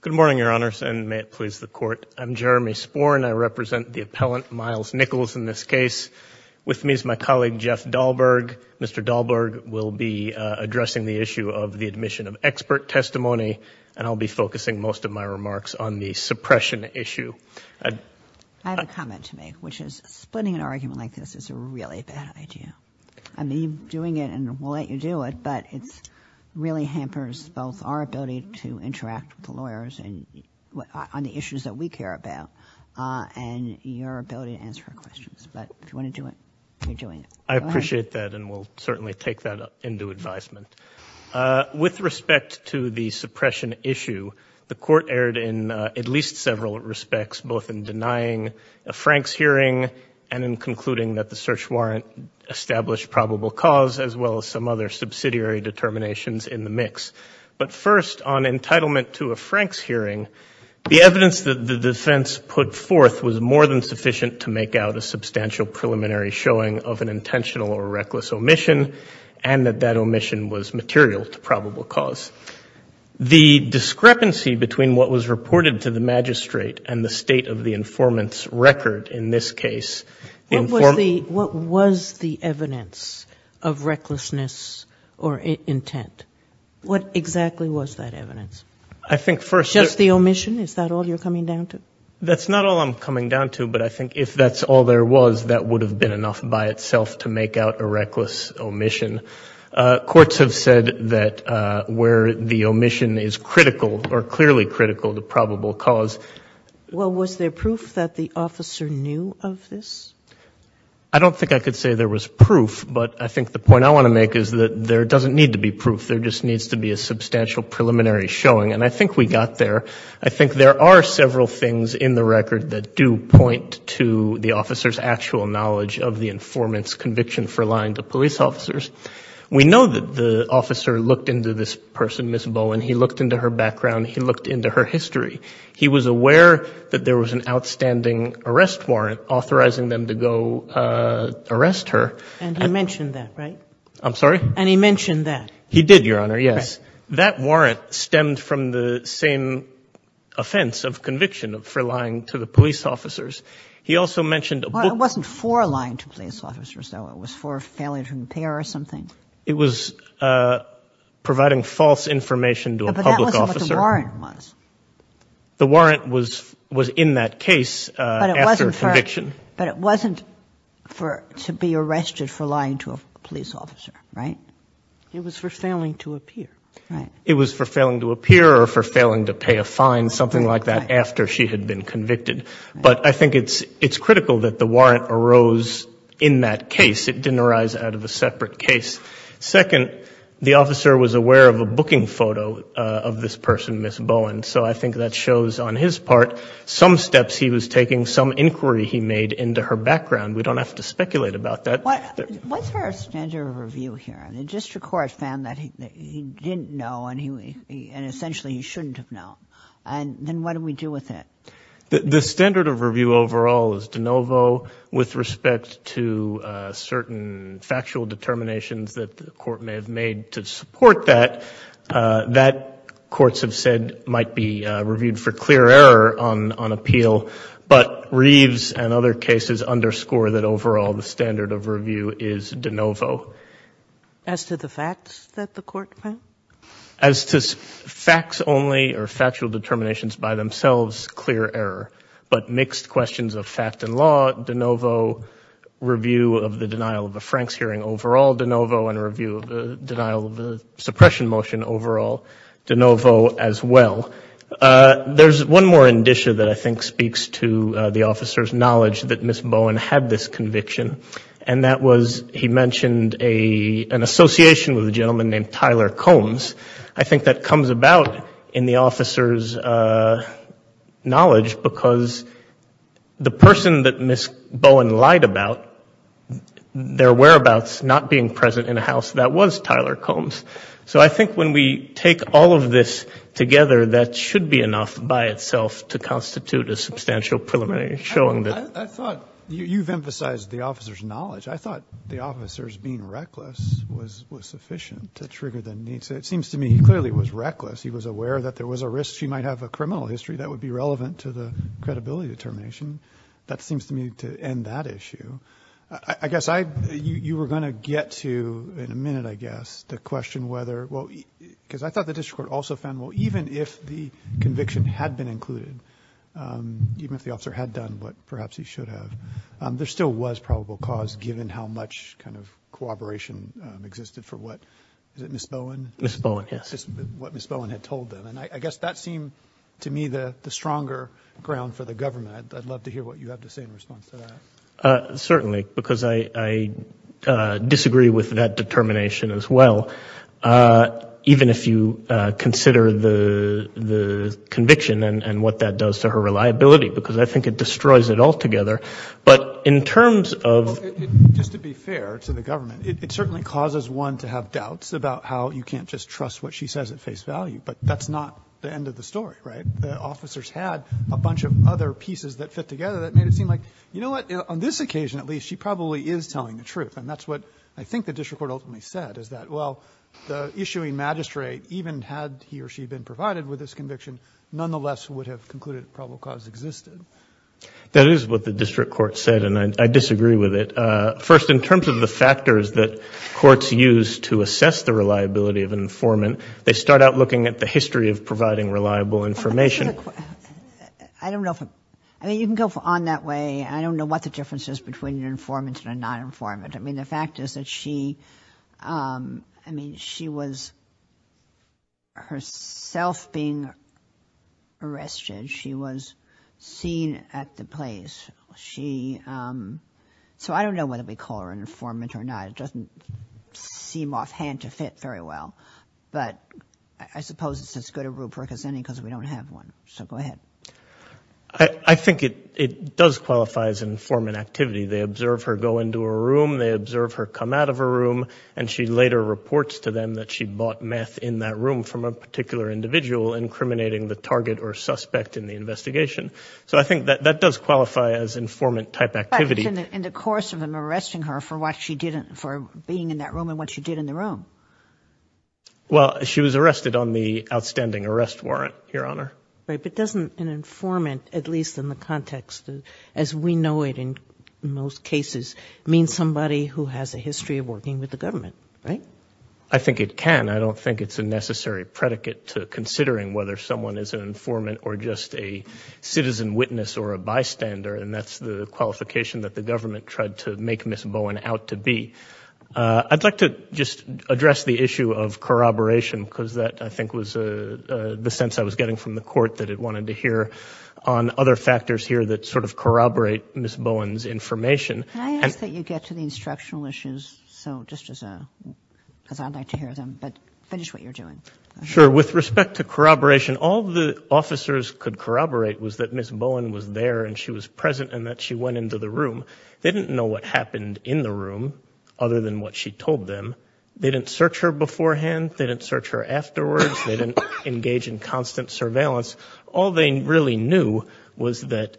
Good morning, Your Honors, and may it please the Court. I'm Jeremy Sporn. I represent the appellant Miles Nichols in this case. With me is my colleague Jeff Dahlberg. Mr. Dahlberg will be addressing the issue of the admission of expert testimony, and I'll be focusing most of my remarks on the suppression issue. I have a comment to make, which is splitting an argument like this is a really bad idea. I mean, you're doing it and we'll let you do it, but it really hampers both our ability to interact with the lawyers on the issues that we care about and your ability to answer our questions. But if you want to do it, you're doing it. Go ahead. Jeff Dahlberg I appreciate that, and we'll certainly take that into advisement. With respect to the suppression issue, the Court erred in at least several respects, both in denying a Franks hearing and in concluding that the search warrant established probable cause, as well as some other subsidiary determinations in the mix. But first, on entitlement to a Franks hearing, the evidence that the defense put forth was more than sufficient to make out a substantial preliminary showing of an intentional or reckless omission and that that omission was material to probable cause. The discrepancy between what was reported to the magistrate and the state of the informant's record in this case informs Judge Sotomayor What was the evidence of recklessness or intent? What exactly was that evidence? Jeff Dahlberg I think first Judge Sotomayor Just the omission? Is that all you're coming down to? Jeff Dahlberg That's not all I'm coming down to, but I think if that's all there was, that would have been enough by itself to make out a reckless omission. Courts have said that where the omission is critical, or clearly critical to probable cause Judge Sotomayor Well, was there proof that the officer knew Jeff Dahlberg I don't think I could say there was proof, but I think the point I want to make is that there doesn't need to be proof. There just needs to be a substantial preliminary showing, and I think we got there. I think there are several things in the record that do point to the officer's actual knowledge of the informant's conviction for lying to police officers. We know that the officer looked into this person, Ms. Bowen. He looked into her background. He looked into her history. He was aware that there was an outstanding arrest warrant authorizing them to go arrest her. Judge Sotomayor And he mentioned that, right? Jeff Dahlberg I'm sorry? Judge Sotomayor And he mentioned that? Jeff Dahlberg He did, Your Honor, yes. That warrant stemmed from the same offense of conviction for lying to the police officers. He also mentioned a book Judge Sotomayor It wasn't for lying to police officers, though. It was for failing to repair or something? Jeff Dahlberg It was providing false information to a public Judge Sotomayor But that wasn't what the warrant was. Jeff Dahlberg The warrant was in that case after conviction. Judge Sotomayor But it wasn't to be arrested for lying to a police officer, right? Judge Sotomayor It was for failing to appear. Jeff Dahlberg It was for failing to appear or for failing to pay a fine, something like that, after she had been convicted. But I think it's critical that the warrant arose in that case. It didn't arise out of a separate case. Second, the officer was aware of a booking photo of this person, Ms. Bowen. So I think that shows on his part some steps he was taking, some inquiry he made into her background. We don't have Judge Sotomayor What's her standard of review here? The district court found that he didn't know and essentially he shouldn't have known. And then what do we do with it? Jeff Dahlberg The standard of review overall is de novo with respect to certain factual determinations that the court may have made to support that. That courts have said might be reviewed for clear error on appeal. But Reeves and other cases underscore that overall the standard of review is de novo. Judge Sotomayor As to the facts that the court found? Jeff Dahlberg As to facts only or factual determinations by themselves, clear error. But mixed questions of fact and law, de novo. Review of the denial of the Franks hearing overall, de novo. And a review of the denial of the suppression motion overall, de novo as well. There's one more indicia that I think speaks to the officer's knowledge that Ms. Bowen had this conviction. And that was he mentioned an association with a gentleman named Tyler Combs. I think that comes about in the officer's knowledge because the person that Ms. Bowen lied about, their whereabouts not being present in a house that was Tyler Combs. So I think when we take all of this together, that should be enough by itself to constitute a substantial preliminary showing. Judge McAnany I thought you've emphasized the officer's being reckless was sufficient to trigger the need. So it seems to me he clearly was reckless. He was aware that there was a risk she might have a criminal history that would be relevant to the credibility determination. That seems to me to end that issue. I guess you were going to get to in a minute, I guess, the question whether, because I thought the district court also found, well, even if the conviction had been included, even if the officer had done what perhaps he should have, there still was probable cause given how much kind of cooperation existed for what, is it Ms. Bowen, what Ms. Bowen had told them. And I guess that seemed to me the stronger ground for the government. I'd love to hear what you have to say in response to that. Chief Judge Roberts Certainly, because I disagree with that determination as well. Even if you consider the conviction and what that does to her reliability, because I think it destroys it altogether. But in terms of Justice Breyer Just to be fair to the government, it certainly causes one to have doubts about how you can't just trust what she says at face value. But that's not the end of the story, right? The officers had a bunch of other pieces that fit together that made it seem like, you know what, on this occasion, at least, she probably is telling the truth. And that's what I think the district court ultimately said, is that, well, the issuing magistrate, even had he or she been provided with this is what the district court said and I disagree with it. First, in terms of the factors that courts use to assess the reliability of an informant, they start out looking at the history of providing reliable information. Justice Kagan I don't know if I, I mean, you can go on that way. I don't know what the difference is between an informant and a non-informant. I mean, the fact is that she, I mean, she was herself being arrested. She was seen at the place. She, so I don't know whether we call her an informant or not. It doesn't seem offhand to fit very well. But I suppose it's as good a rubric as any because we don't have one. So go ahead. Justice Breyer I think it does qualify as an informant activity. They observe her go into a room. They observe her come out of a room and she later reports to them that she bought meth in that room from a particular individual incriminating the target or suspect in the investigation. So I think that that does qualify as informant type activity. Justice Kagan But in the course of them arresting her for what she did, for being in that room and what she did in the room. Justice Breyer Well, she was arrested on the outstanding arrest warrant, Your Honor. Justice Kagan Right, but doesn't an informant, at least in the context as we know it in most cases, mean somebody who has a history of working with the government, right? Justice Breyer I think it can. I don't think it's a necessary predicate to considering whether someone is an informant or just a citizen witness or a bystander. And that's the qualification that the government tried to make Ms. Bowen out to be. I'd like to just address the issue of corroboration because that I think was the sense I was getting from the Court that it wanted to hear on other factors here that sort of corroborate Ms. Bowen's information. Justice Kagan Can I ask that you get to the instructional issues so just as a, because I'd like to hear them, but finish what you're doing. Justice Breyer Sure. With respect to corroboration, all the officers could corroborate was that Ms. Bowen was there and she was present and that she went into the room. They didn't know what happened in the room other than what she told them. They didn't search her beforehand. They didn't search her afterwards. They didn't engage in constant surveillance. All they really knew was that,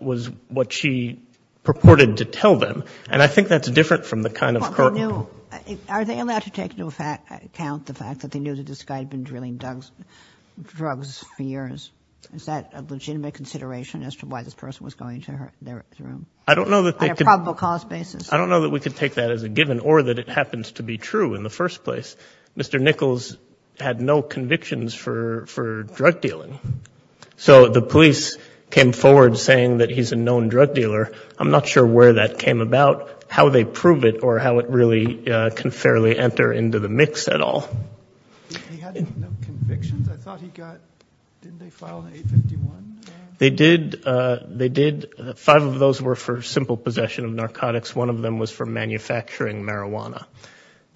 was what she purported to tell them. And I think that's different from the kind of court Justice Kagan Are they allowed to take into account the fact that they knew that this guy had been drilling drugs for years? Is that a legitimate consideration as to why this person was going into their room? Justice Breyer I don't know that they could Justice Kagan On a probable cause basis? Justice Breyer I don't know that we could take that as a given or that it happens to be true in the first place. Mr. Nichols had no convictions for drug dealing. So the police came forward saying that he's a known drug dealer. I'm not sure where that came about, how they prove it, or how it really can fairly enter into the mix at all. Justice Breyer He had no convictions? I thought he got, didn't they file an 851? Justice Breyer They did. They did. Five of those were for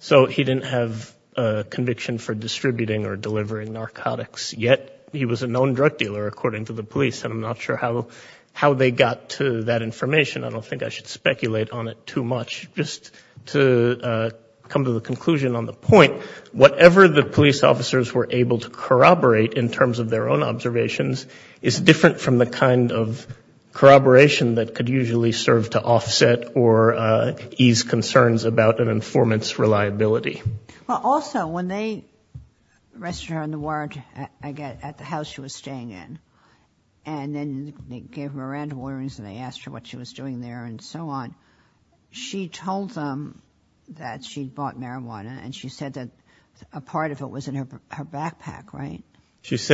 So he didn't have a conviction for distributing or delivering narcotics, yet he was a known drug dealer, according to the police. And I'm not sure how they got to that information. I don't think I should speculate on it too much. Just to come to the conclusion on the point, whatever the police officers were able to corroborate in terms of their own observations is different from the kind of corroboration that could usually serve to offset or ease concerns about an informant's reliability. Well, also, when they arrested her on the warrant at the house she was staying in, and then they gave her random orderings and they asked her what she was doing there and so on. She told them that she'd bought marijuana and she said that a part of it was in her backpack, right? Yes.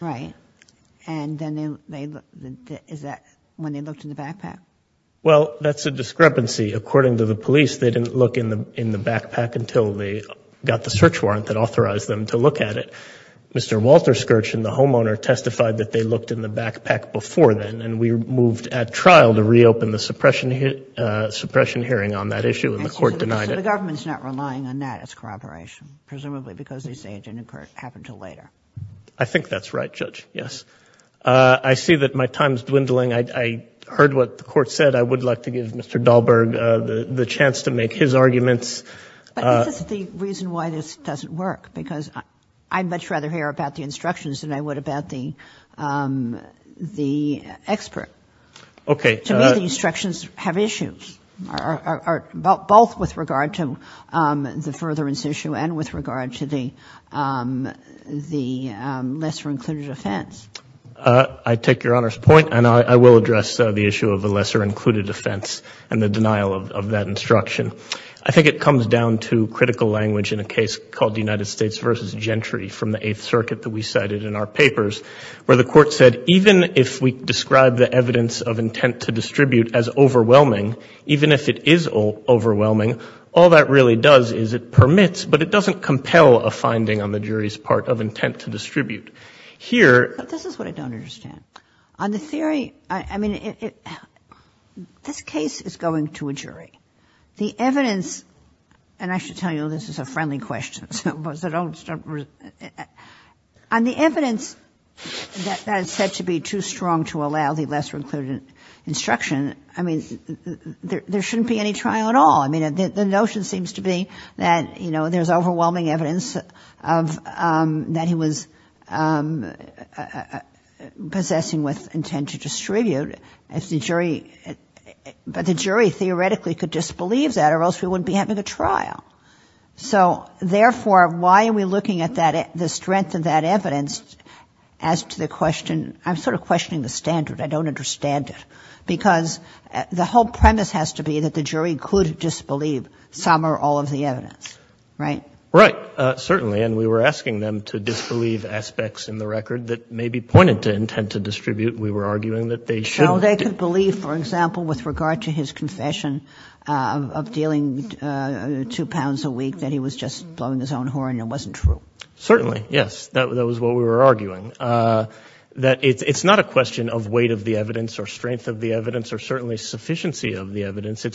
Right. And then they, is that when they looked in the backpack? Well, that's a discrepancy. According to the police, they didn't look in the backpack until they got the search warrant that authorized them to look at it. Mr. Walter Skirch and the homeowner testified that they looked in the backpack before then and we moved at trial to reopen the suppression hearing on that issue and the court denied it. So the government's not relying on that as corroboration, presumably because this agent happened until later. I think that's right, Judge, yes. I see that my time's dwindling. I heard what the court said. I would like to give Mr. Dahlberg the chance to make his arguments. But is this the reason why this doesn't work? Because I'd much rather hear about the instructions than I would about the expert. Okay. To me, the instructions have issues, both with regard to the furtherance issue and with the lesser-included offense. I take Your Honor's point and I will address the issue of the lesser-included offense and the denial of that instruction. I think it comes down to critical language in a case called United States v. Gentry from the Eighth Circuit that we cited in our papers, where the court said, even if we describe the evidence of intent to distribute as overwhelming, even if it is overwhelming, all that really does is it permits, but it doesn't compel, a finding on the jury's part of intent to distribute. But this is what I don't understand. On the theory, I mean, this case is going to a jury. The evidence, and I should tell you, this is a friendly question, so don't start. On the evidence that is said to be too strong to allow the lesser-included instruction, I mean, there shouldn't be any trial at all. The notion seems to be that there's overwhelming evidence that he was possessing with intent to distribute, but the jury theoretically could disbelieve that or else we wouldn't be having a trial. So therefore, why are we looking at the strength of that evidence as to the question? I'm sort of questioning the standard. I don't understand it. Because the whole premise has to be that the jury could disbelieve some or all of the evidence, right? Right, certainly. And we were asking them to disbelieve aspects in the record that may be pointed to intent to distribute. We were arguing that they should. So they could believe, for example, with regard to his confession of dealing two pounds a week that he was just blowing his own horn and it wasn't true. Certainly, yes. That was what we were arguing. That it's not a question of weight of the evidence, it's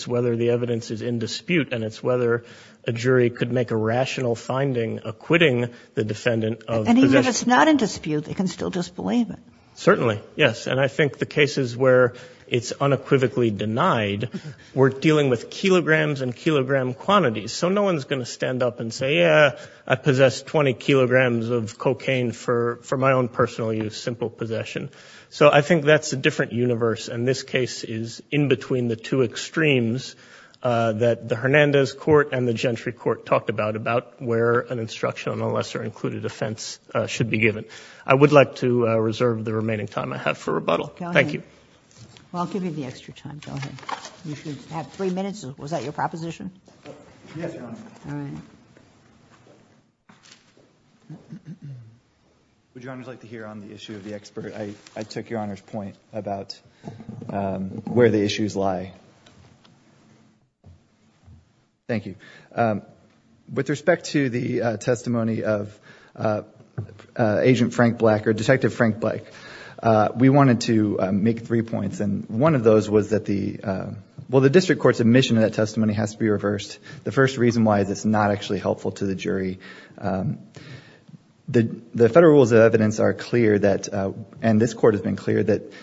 whether the evidence is in dispute and it's whether a jury could make a rational finding acquitting the defendant of possession. And even if it's not in dispute, they can still disbelieve it. Certainly, yes. And I think the cases where it's unequivocally denied, we're dealing with kilograms and kilogram quantities. So no one's going to stand up and say, yeah, I possess 20 kilograms of cocaine for my own personal use, simple possession. So I think that's a different universe. And this case is in between the two extremes that the Hernandez Court and the Gentry Court talked about, about where an instruction on a lesser included offense should be given. I would like to reserve the remaining time I have for rebuttal. Thank you. Well, I'll give you the extra time. Go ahead. You should have three minutes. Was that your proposition? Yes, Your Honor. All right. Would Your Honors like to hear on the issue of the expert? I took Your Honor's point. About where the issues lie. Thank you. With respect to the testimony of Agent Frank Black or Detective Frank Black, we wanted to make three points. And one of those was that the, well, the district court's admission of that testimony has to be reversed. The first reason why is it's not actually helpful to the jury. The federal rules of evidence are clear that, and this court has been clear, that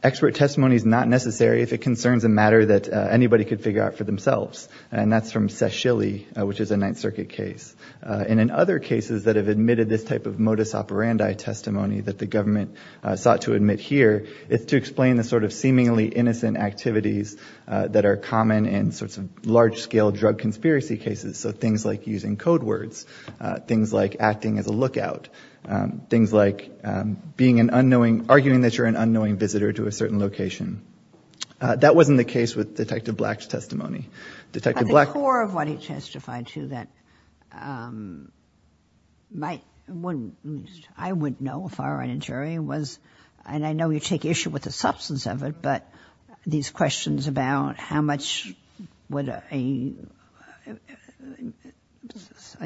expert testimony is not necessary if it concerns a matter that anybody could figure out for themselves. And that's from Seschilly, which is a Ninth Circuit case. And in other cases that have admitted this type of modus operandi testimony that the government sought to admit here, it's to explain the sort of seemingly innocent activities that are common in sorts of large-scale drug conspiracy cases. So things like using code words. Things like acting as a lookout. Things like being an unknowing, arguing that you're an unknowing visitor to a certain location. That wasn't the case with Detective Black's testimony. Detective Black— At the core of what he testified to that might, wouldn't, I wouldn't know if I were on a jury was, and I know you take issue with the substance of it, but these questions about how much would a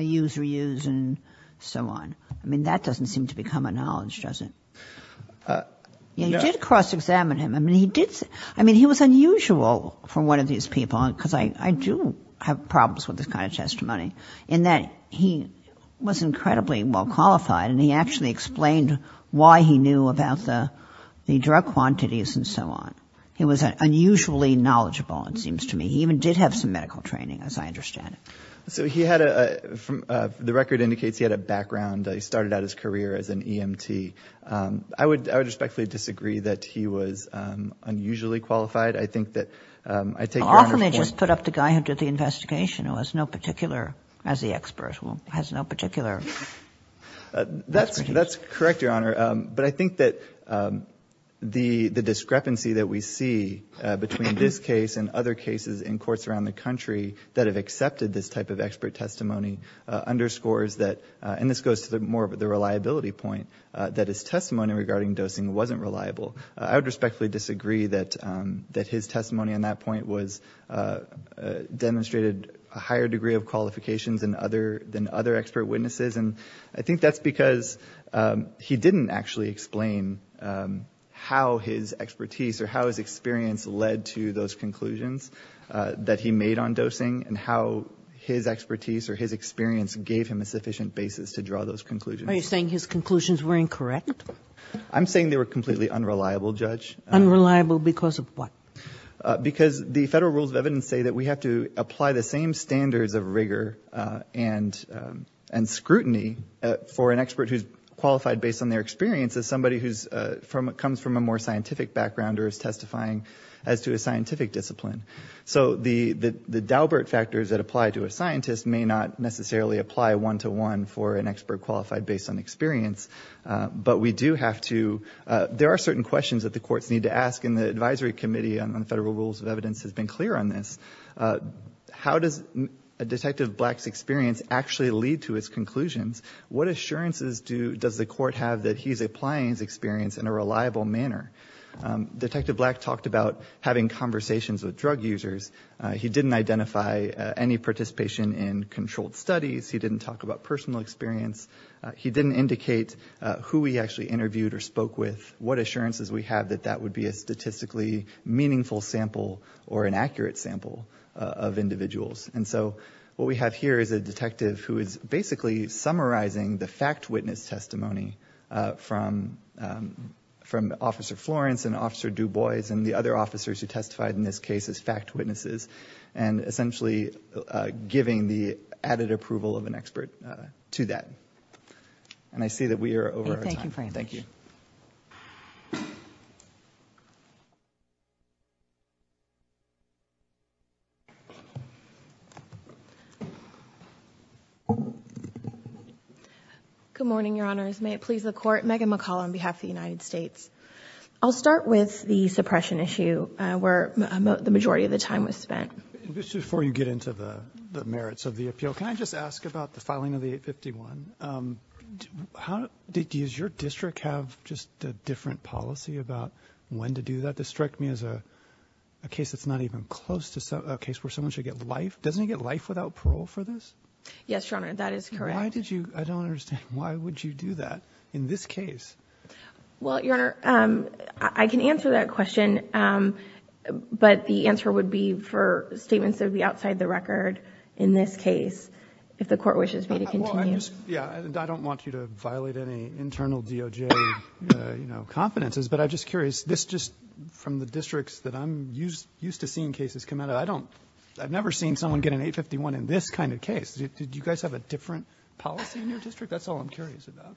user use and so on, I mean, that doesn't seem to become a knowledge, does it? You did cross-examine him. I mean, he did say, I mean, he was unusual for one of these people, because I do have problems with this kind of testimony, in that he was incredibly well qualified and he actually explained why he knew about the drug quantities and so on. He was unusually knowledgeable, it seems to me. He even did have some medical training, as I understand it. So he had a, from the record indicates he had a background. He started out his career as an EMT. I would respectfully disagree that he was unusually qualified. I think that I take your point— Often they just put up the guy who did the investigation, who has no particular, as the expert will, has no particular— That's correct, Your Honor. But I think that the discrepancy that we see between this case and other cases in courts around the country that have accepted this type of expert testimony underscores that, and this goes to more of the reliability point, that his testimony regarding dosing wasn't reliable. I would respectfully disagree that his testimony on that point was, demonstrated a higher degree of qualifications than other expert witnesses and I think that's because he didn't actually explain how his expertise or how his experience led to those conclusions that he made on dosing and how his expertise or his experience gave him a sufficient basis to draw those conclusions. Are you saying his conclusions were incorrect? I'm saying they were completely unreliable, Judge. Unreliable because of what? Because the federal rules of evidence say that we have to apply the same standards of scrutiny for an expert who's qualified based on their experience as somebody who's from, comes from a more scientific background or is testifying as to a scientific discipline. So the Daubert factors that apply to a scientist may not necessarily apply one-to-one for an expert qualified based on experience, but we do have to, there are certain questions that the courts need to ask and the Advisory Committee on Federal Rules of Evidence has been clear on this. How does Detective Black's experience actually lead to his conclusions? What assurances does the court have that he's applying his experience in a reliable manner? Detective Black talked about having conversations with drug users. He didn't identify any participation in controlled studies. He didn't talk about personal experience. He didn't indicate who he actually interviewed or spoke with. What assurances we have that that would be a statistically meaningful sample or an accurate sample of individuals? And so what we have here is a detective who is basically summarizing the fact witness testimony from Officer Florence and Officer Dubois and the other officers who testified in this case as fact witnesses and essentially giving the added approval of an expert to that. And I see that we are over our time. Thank you. Thank you. Good morning, Your Honors. May it please the Court, Megan McCalla on behalf of the United States. I'll start with the suppression issue where the majority of the time was spent. Just before you get into the merits of the appeal, can I just ask about the filing of the 851? Does your district have just a different policy about when to do that? This struck me as a case that's not even close to a case where someone should get life. Doesn't he get life without parole for this? Yes, Your Honor. That is correct. Why did you? I don't understand. Why would you do that in this case? Well, Your Honor, I can answer that question. But the answer would be for statements that would be outside the record in this case if the Court wishes me to continue. Well, I'm just... yeah. I don't want you to violate any internal DOJ, you know, confidences. But I'm just curious. This just... from the districts that I'm used to seeing cases come out of, I don't... I've never seen someone get an 851 in this kind of case. Did you guys have a different policy in your district? That's all I'm curious about.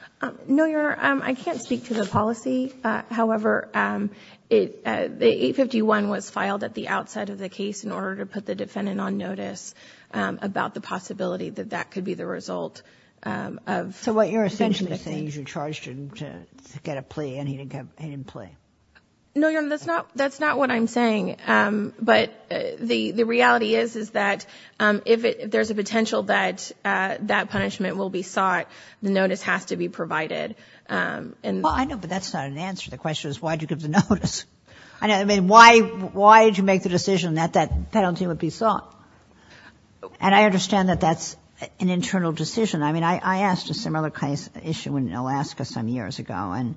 No, Your Honor. I can't speak to the policy. However, the 851 was filed at the outside of the case in order to put the defendant on notice about the possibility that that could be the result of... So what you're essentially saying is you charged him to get a plea and he didn't get... he didn't plea. No, Your Honor. That's not... that's not what I'm saying. But the reality is, is that if there's a potential that that punishment will be sought, the notice has to be provided. Well, I know, but that's not an answer to the question is why did you give the notice? I mean, why did you make the decision that that penalty would be sought? And I understand that that's an internal decision. I mean, I asked a similar kind of issue in Alaska some years ago.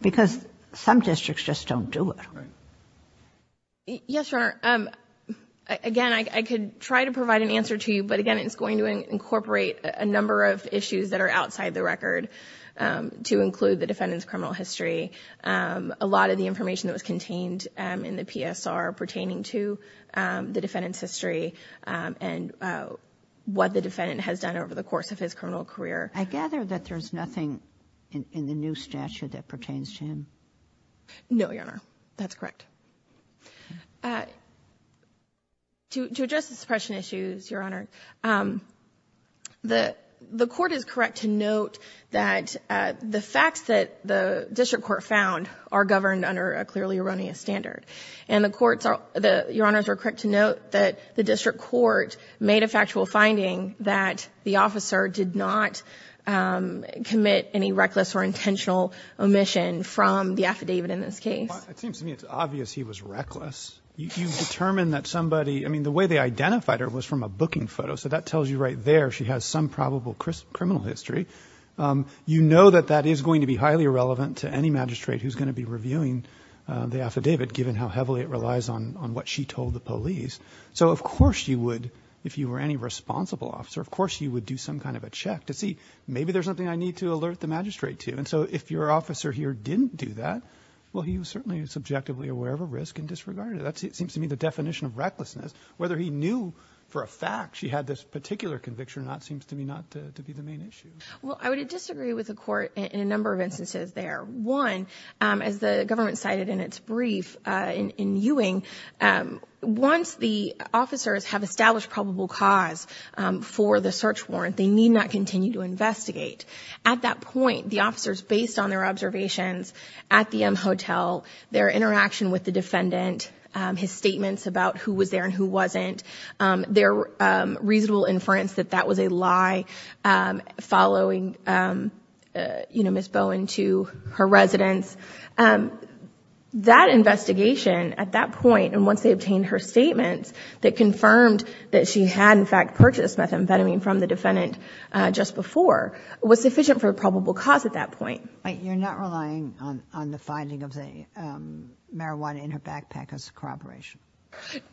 Because some districts just don't do it. Yes, Your Honor. Again, I could try to provide an answer to you, but again, it's going to incorporate a number of issues that are outside the record to include the defendant's criminal history. A lot of the information that was contained in the PSR pertaining to the defendant's history and what the defendant has done over the course of his criminal career. I gather that there's nothing in the new statute that pertains to him? No, Your Honor. That's correct. To address the suppression issues, Your Honor, the court is correct to note that the facts that the district court found are governed under a clearly erroneous standard. And the courts are, Your Honor, are correct to note that the district court made a factual finding that the officer did not commit any reckless or intentional omission from the affidavit in this case. Well, it seems to me it's obvious he was reckless. You've determined that somebody, I mean, the way they identified her was from a booking photo, so that tells you right there she has some probable criminal history. You know that that is going to be highly irrelevant to any magistrate who's going to be reviewing the affidavit, given how heavily it relies on what she told the police. So of course you would, if you were any responsible officer, of course you would do some kind of a check to see, maybe there's something I need to alert the magistrate to. And so if your officer here didn't do that, well, he was certainly subjectively aware of a risk and disregarded it. That seems to me the definition of recklessness, whether he knew for a fact she had this particular conviction or not seems to me not to be the main issue. Well, I would disagree with the court in a number of instances there. One, as the government cited in its brief in Ewing, once the officers have established probable cause for the search warrant, they need not continue to investigate. At that point, the officers, based on their observations at the M Hotel, their interaction with the defendant, his statements about who was there and who wasn't, their reasonable inference that that was a lie following Ms. Bowen to her residence, that investigation at that point, and once they obtained her statements that confirmed that she had in fact purchased methamphetamine from the defendant just before, was sufficient for probable cause at that point. But you're not relying on the finding of the marijuana in her backpack as corroboration?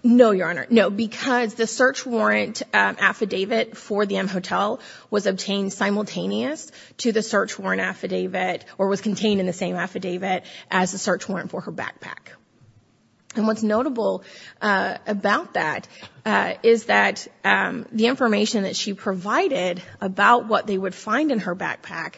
No, Your Honor. No, because the search warrant affidavit for the M Hotel was obtained simultaneous to the search warrant affidavit or was contained in the same affidavit as the search warrant for her backpack. And what's notable about that is that the information that she provided about what they would find in her backpack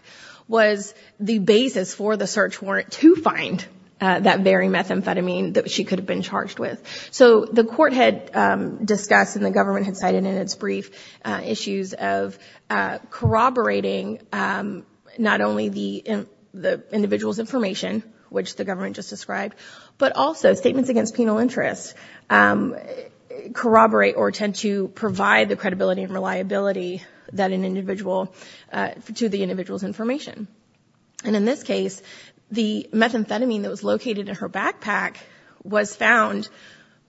was the basis for the search warrant to find that very methamphetamine that she could have been charged with. So the court had discussed and the government had cited in its brief issues of corroborating not only the individual's information, which the government just described, but also statements against penal interest corroborate or tend to provide the credibility and reliability that an individual, to the individual's information. And in this case, the methamphetamine that was located in her backpack was found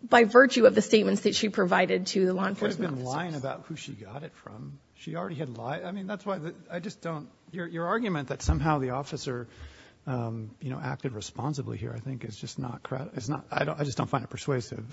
by virtue of the statements that she provided to the law enforcement officers. She could have been lying about who she got it from. She already had lied. I mean, that's why I just don't, your argument that somehow the officer, you know, acted responsibly here I think is just not, I just don't find it persuasive.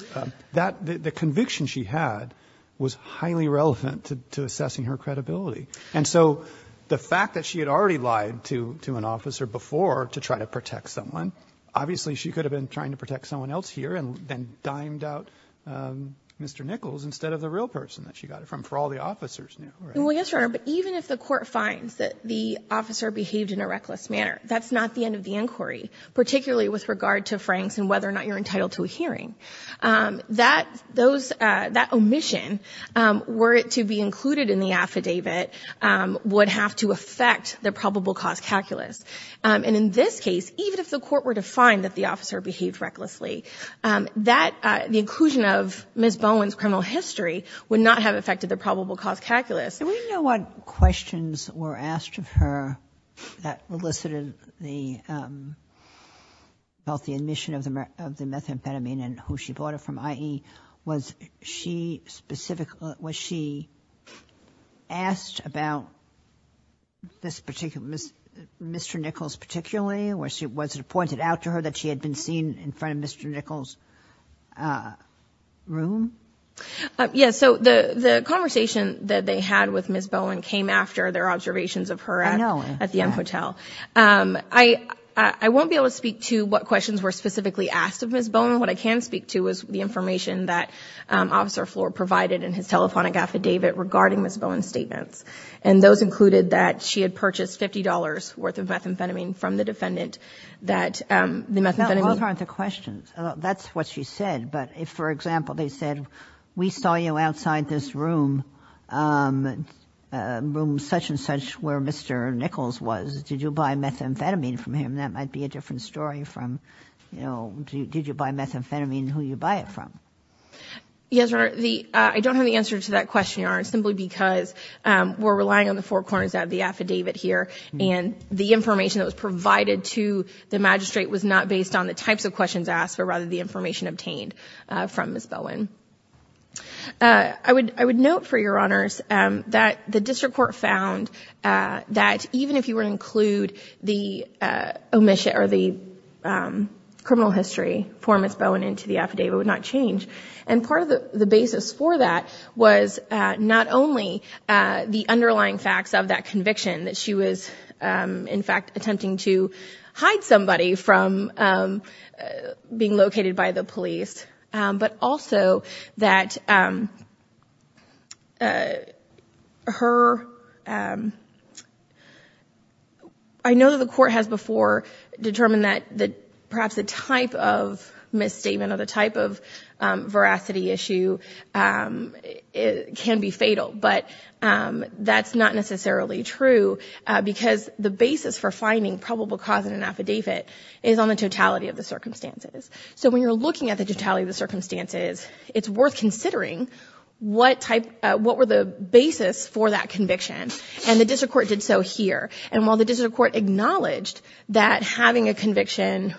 The conviction she had was highly relevant to assessing her credibility. And so the fact that she had already lied to an officer before to try to protect someone, obviously she could have been trying to protect someone else here and then dimed out Mr. Nichols instead of the real person that she got it from, for all the officers knew. Well, yes, Your Honor, but even if the court finds that the officer behaved in a reckless manner, that's not the end of the inquiry, particularly with regard to Franks and whether or not you're entitled to a hearing. That, those, that omission, were it to be included in the affidavit, would have to affect the probable cause calculus. And in this case, even if the court were to find that the officer behaved recklessly, that the inclusion of Ms. Bowen's criminal history would not have affected the probable cause calculus. Do we know what questions were asked of her that elicited the, both the admission of the, of the methamphetamine and who she bought it from, i.e., was she specifically, was she asked about this particular, Mr. Nichols particularly, or was it pointed out to her that she had been seen in front of Mr. Nichols' room? Yes. So the, the conversation that they had with Ms. Bowen came after their observations of her at the M Hotel. I, I won't be able to speak to what questions were specifically asked of Ms. Bowen. What I can speak to is the information that Officer Flohr provided in his telephonic affidavit regarding Ms. Bowen's statements. And those included that she had purchased $50 worth of methamphetamine from the defendant, that the methamphetamine... Those aren't the questions. That's what she said. But if, for example, they said, we saw you outside this room, room such and such where Mr. Nichols was, did you buy methamphetamine from him? That might be a different story from, you know, did you buy methamphetamine, who you buy it from? Yes, Your Honor. The, I don't have the answer to that question, Your Honor, simply because we're relying on the four corners of the affidavit here. And the information that was provided to the magistrate was not based on the types of questions asked, but rather the information obtained from Ms. Bowen. I would, I would note for Your Honors that the district court found that even if you were to include the omission or the criminal history for Ms. Bowen into the affidavit, it would not change. And part of the basis for that was not only the underlying facts of that conviction that she was in fact attempting to hide somebody from being located by the police, but also that her, I know that the court has before determined that perhaps the type of misstatement or the type of veracity issue can be fatal, but that's not necessarily true because the basis for finding probable cause in an affidavit is on the totality of the circumstances. So when you're looking at the totality of the circumstances, it's worth considering what type, what were the basis for that conviction and the district court did so here. And while the district court acknowledged that having a conviction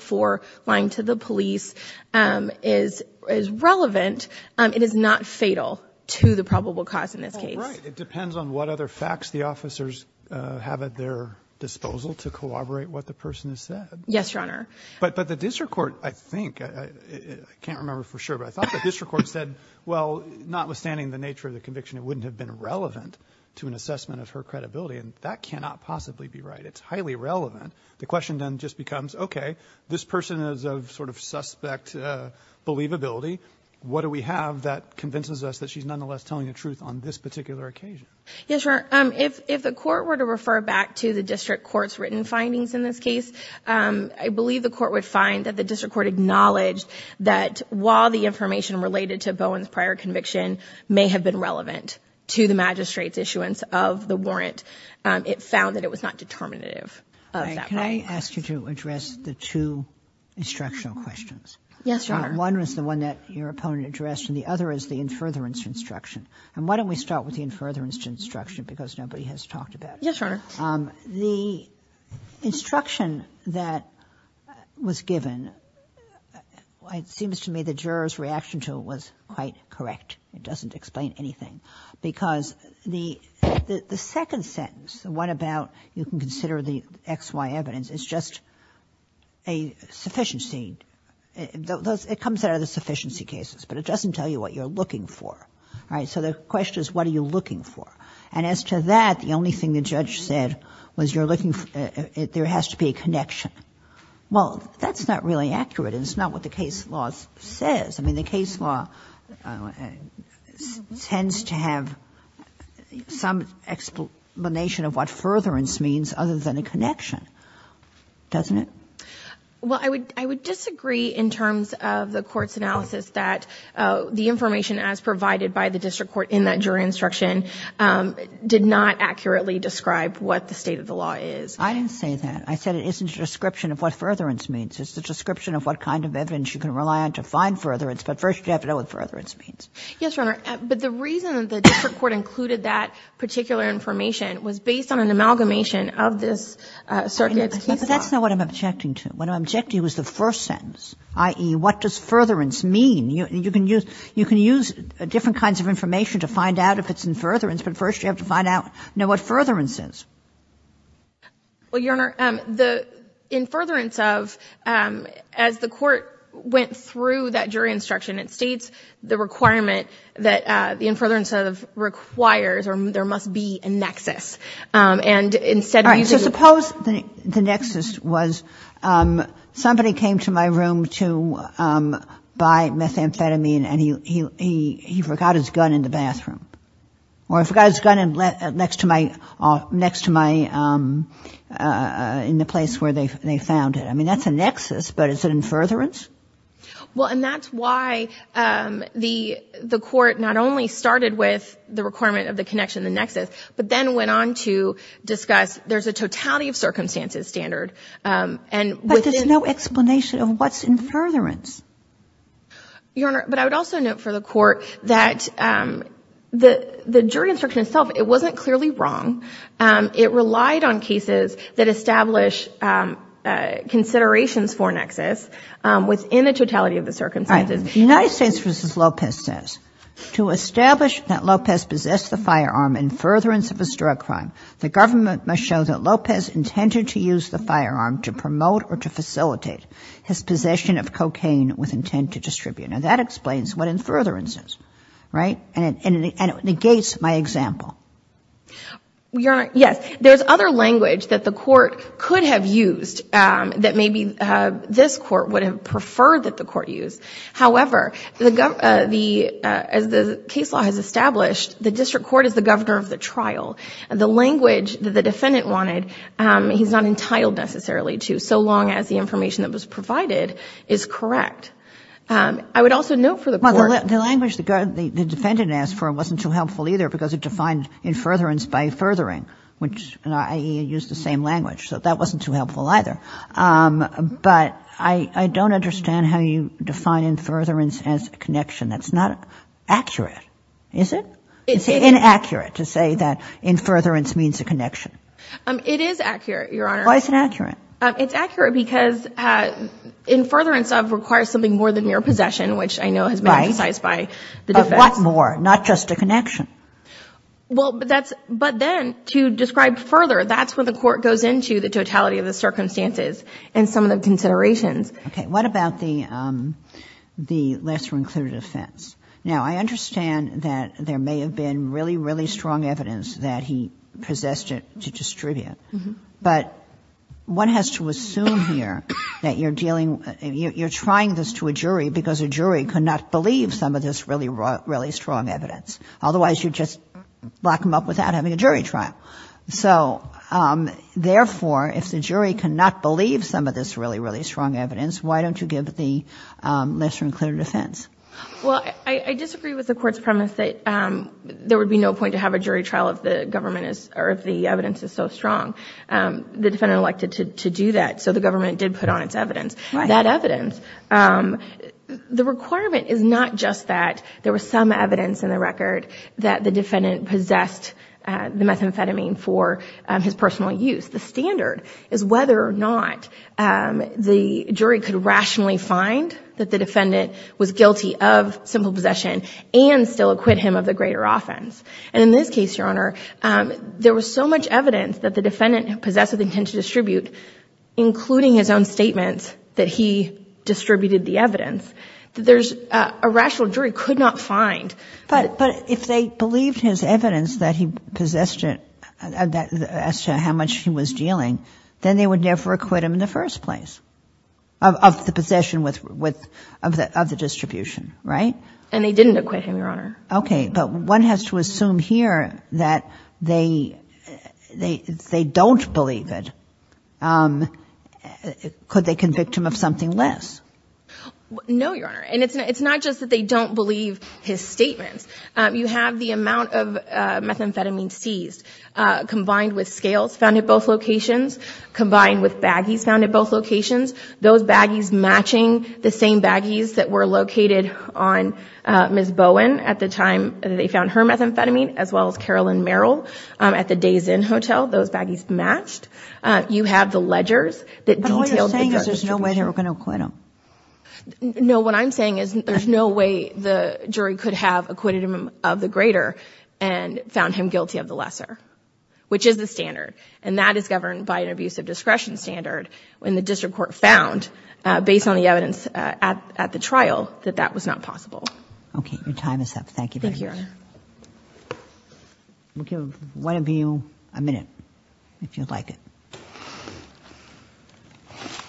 for lying to the police is, is relevant, it is not fatal to the probable cause in this case. It depends on what other facts the officers have at their disposal to corroborate what the person has said. Yes, Your Honor. But, but the district court, I think, I can't remember for sure, but I thought the district court said, well, notwithstanding the nature of the conviction, it wouldn't have been relevant to an assessment of her credibility. And that cannot possibly be right. It's highly relevant. The question then just becomes, okay, this person is of sort of suspect believability. What do we have that convinces us that she's nonetheless telling the truth on this particular occasion? Yes, Your Honor. Um, if, if the court were to refer back to the district court's written findings in this case, um, I believe the court would find that the district court acknowledged that while the information related to Bowen's prior conviction may have been relevant to the magistrate's issuance of the warrant, um, it found that it was not determinative of that. Can I ask you to address the two instructional questions? Yes, Your Honor. One was the one that your opponent addressed and the other is the in-furtherance instruction. And why don't we start with the in-furtherance instruction because nobody has talked about it. Yes, Your Honor. Um, the instruction that was given, it seems to me the juror's reaction to it was quite correct. It doesn't explain anything because the, the second sentence, the one about you can consider the X, Y evidence, it's just a sufficiency. It comes out of the sufficiency cases, but it doesn't tell you what you're looking for. Right? So the question is, what are you looking for? And as to that, the only thing the judge said was you're looking for, uh, there has to be a connection. Well, that's not really accurate. It's not what the case law says. I mean, the case law, uh, tends to have some explanation of what furtherance means other than a connection, doesn't it? Well, I would, I would disagree in terms of the court's analysis that, uh, the did not accurately describe what the state of the law is. I didn't say that. I said, it isn't a description of what furtherance means. It's the description of what kind of evidence you can rely on to find furtherance, but first you have to know what furtherance means. Yes, Your Honor. But the reason that the district court included that particular information was based on an amalgamation of this, uh, circuit's case law. That's not what I'm objecting to. What I'm objecting to is the first sentence, i.e. what does furtherance mean? You, you can use, you can use different kinds of information to find out if it's furtherance, but first you have to find out, know what furtherance is. Well, Your Honor, um, the, in furtherance of, um, as the court went through that jury instruction, it states the requirement that, uh, the in furtherance of requires, or there must be a nexus. Um, and instead of using... So suppose the nexus was, um, somebody came to my room to, um, buy methamphetamine and he, he, he forgot his gun in the bathroom. Or he forgot his gun in, uh, next to my, uh, next to my, um, uh, in the place where they, they found it. I mean, that's a nexus, but is it in furtherance? Well, and that's why, um, the, the court not only started with the requirement of the connection, the nexus, but then went on to discuss, there's a totality of circumstances standard, um, and... But there's no explanation of what's in furtherance. Your Honor, but I would also note for the court that, um, the, the jury instruction itself, it wasn't clearly wrong. Um, it relied on cases that establish, um, uh, considerations for nexus, um, within the totality of the circumstances. United States versus Lopez says, to establish that Lopez possessed the firearm in furtherance of his drug crime, the government must show that Lopez intended to use the firearm to promote or to facilitate his possession of cocaine with intent to distribute. Now that explains what in furtherance is, right? And it, and it negates my example. Your Honor, yes. There's other language that the court could have used, um, that maybe, uh, this court would have preferred that the court use. However, the gov, uh, the, uh, as the case law has established, the district court is the governor of the trial. The language that the defendant wanted, um, he's not entitled necessarily to, so long as the information that was provided is correct. Um, I would also note for the court. The language the defendant asked for wasn't too helpful either because it defined in furtherance by furthering, which I use the same language. So that wasn't too helpful either. Um, but I, I don't understand how you define in furtherance as a connection that's not accurate. Is it? It's inaccurate to say that in furtherance means a connection. Um, it is accurate, Your Honor. Why is it accurate? Um, it's accurate because, uh, in furtherance of requires something more than mere possession, which I know has been emphasized by the defense. Right. Of what more? Not just a connection. Well, but that's, but then to describe further, that's when the court goes into the totality of the circumstances and some of the considerations. Okay. What about the, um, the lesser included offense? Now I understand that there may have been really, really strong evidence that he possessed it to distribute. But one has to assume here that you're dealing, you're trying this to a jury because a jury could not believe some of this really, really strong evidence. Otherwise you'd just lock them up without having a jury trial. So, um, therefore if the jury can not believe some of this really, really strong evidence, why don't you give the, um, lesser included offense? Well, I, I disagree with the court's premise that, um, there would be no point to have a jury trial if the government is, or if the evidence is so strong, um, the defendant elected to, to do that. So the government did put on its evidence, that evidence, um, the requirement is not just that there was some evidence in the record that the defendant possessed, uh, the methamphetamine for his personal use. The standard is whether or not, um, the jury could rationally find that the defendant was guilty of simple possession and still acquit him of the greater offense. And in this case, Your Honor, um, there was so much evidence that the defendant possessed with intent to distribute, including his own statements that he distributed the evidence, that there's a rational jury could not find. But, but if they believed his evidence that he possessed it as to how much he was dealing, then they would never acquit him in the first place of the possession with, with, of the, of the distribution, right? And they didn't acquit him, Your Honor. Okay. But one has to assume here that they, they, they don't believe it. Um, could they convict him of something less? No, Your Honor. And it's not, it's not just that they don't believe his statements. Um, you have the amount of, uh, methamphetamine seized, uh, combined with scales found at both locations, combined with baggies found at both locations, those baggies matching the same baggies that were located on, uh, Ms. Bowen at the time that they found her methamphetamine, as well as Carolyn Merrill, um, at the Day's Inn Hotel, those baggies matched. Uh, you have the ledgers that detailed the drug distribution. But what you're saying is there's no way they were going to acquit him. No, what I'm saying is there's no way the jury could have acquitted him of the greater and found him guilty of the lesser, which is the standard. And that is governed by an abusive discretion standard when the district court found, uh, based on the evidence, uh, at, at the trial that that was not possible. Okay. Your time is up. Thank you. We'll give one of you a minute, if you'd like it.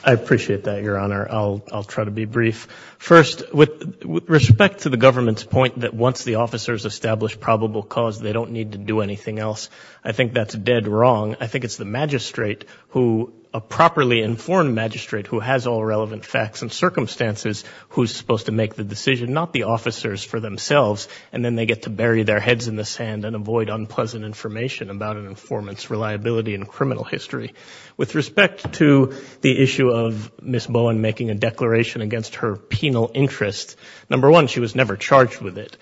I appreciate that, Your Honor. I'll, I'll try to be brief. First, with respect to the government's point that once the officers established probable cause, they don't need to do anything else. I think that's dead wrong. I think it's the magistrate who, a properly informed magistrate who has all relevant facts and circumstances, who's supposed to make the decision, not the officers for themselves. And then they get to bury their heads in the sand and avoid unpleasant information about an informant's reliability in criminal history. With respect to the issue of Ms. Bowen making a declaration against her penal interest, number one, she was never charged with it.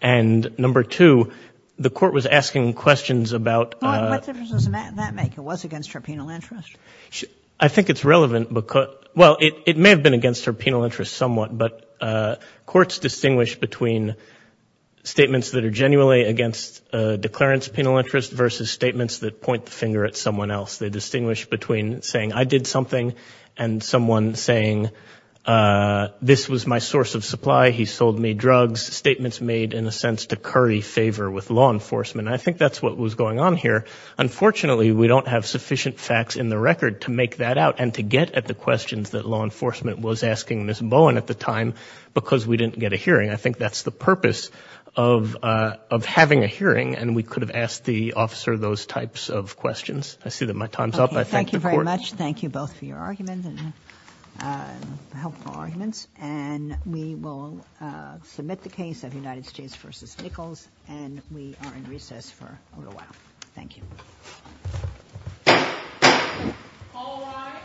And number two, the court was asking questions about, uh... What difference does that make? It was against her penal interest. I think it's relevant because, well, it, it may have been against her penal interest somewhat, but, uh, courts distinguish between statements that are genuinely against a declarant's penal interest versus statements that point the finger at someone else. They distinguish between saying, I did something and someone saying, uh, this was my source of supply. He sold me drugs. Statements made in a sense to curry favor with law enforcement. I think that's what was going on here. Unfortunately, we don't have sufficient facts in the record to make that out and to get at the questions that law enforcement was asking Ms. Bowen at the time, because we didn't get a hearing. I think that's the purpose of, uh, of having a hearing. And we could have asked the officer those types of questions. I see that my time's up. I thank the court. Thank you both for your arguments and, uh, helpful arguments. And we will, uh, submit the case of United States versus Nichols and we are in recess for a little while. Thank you. Okay.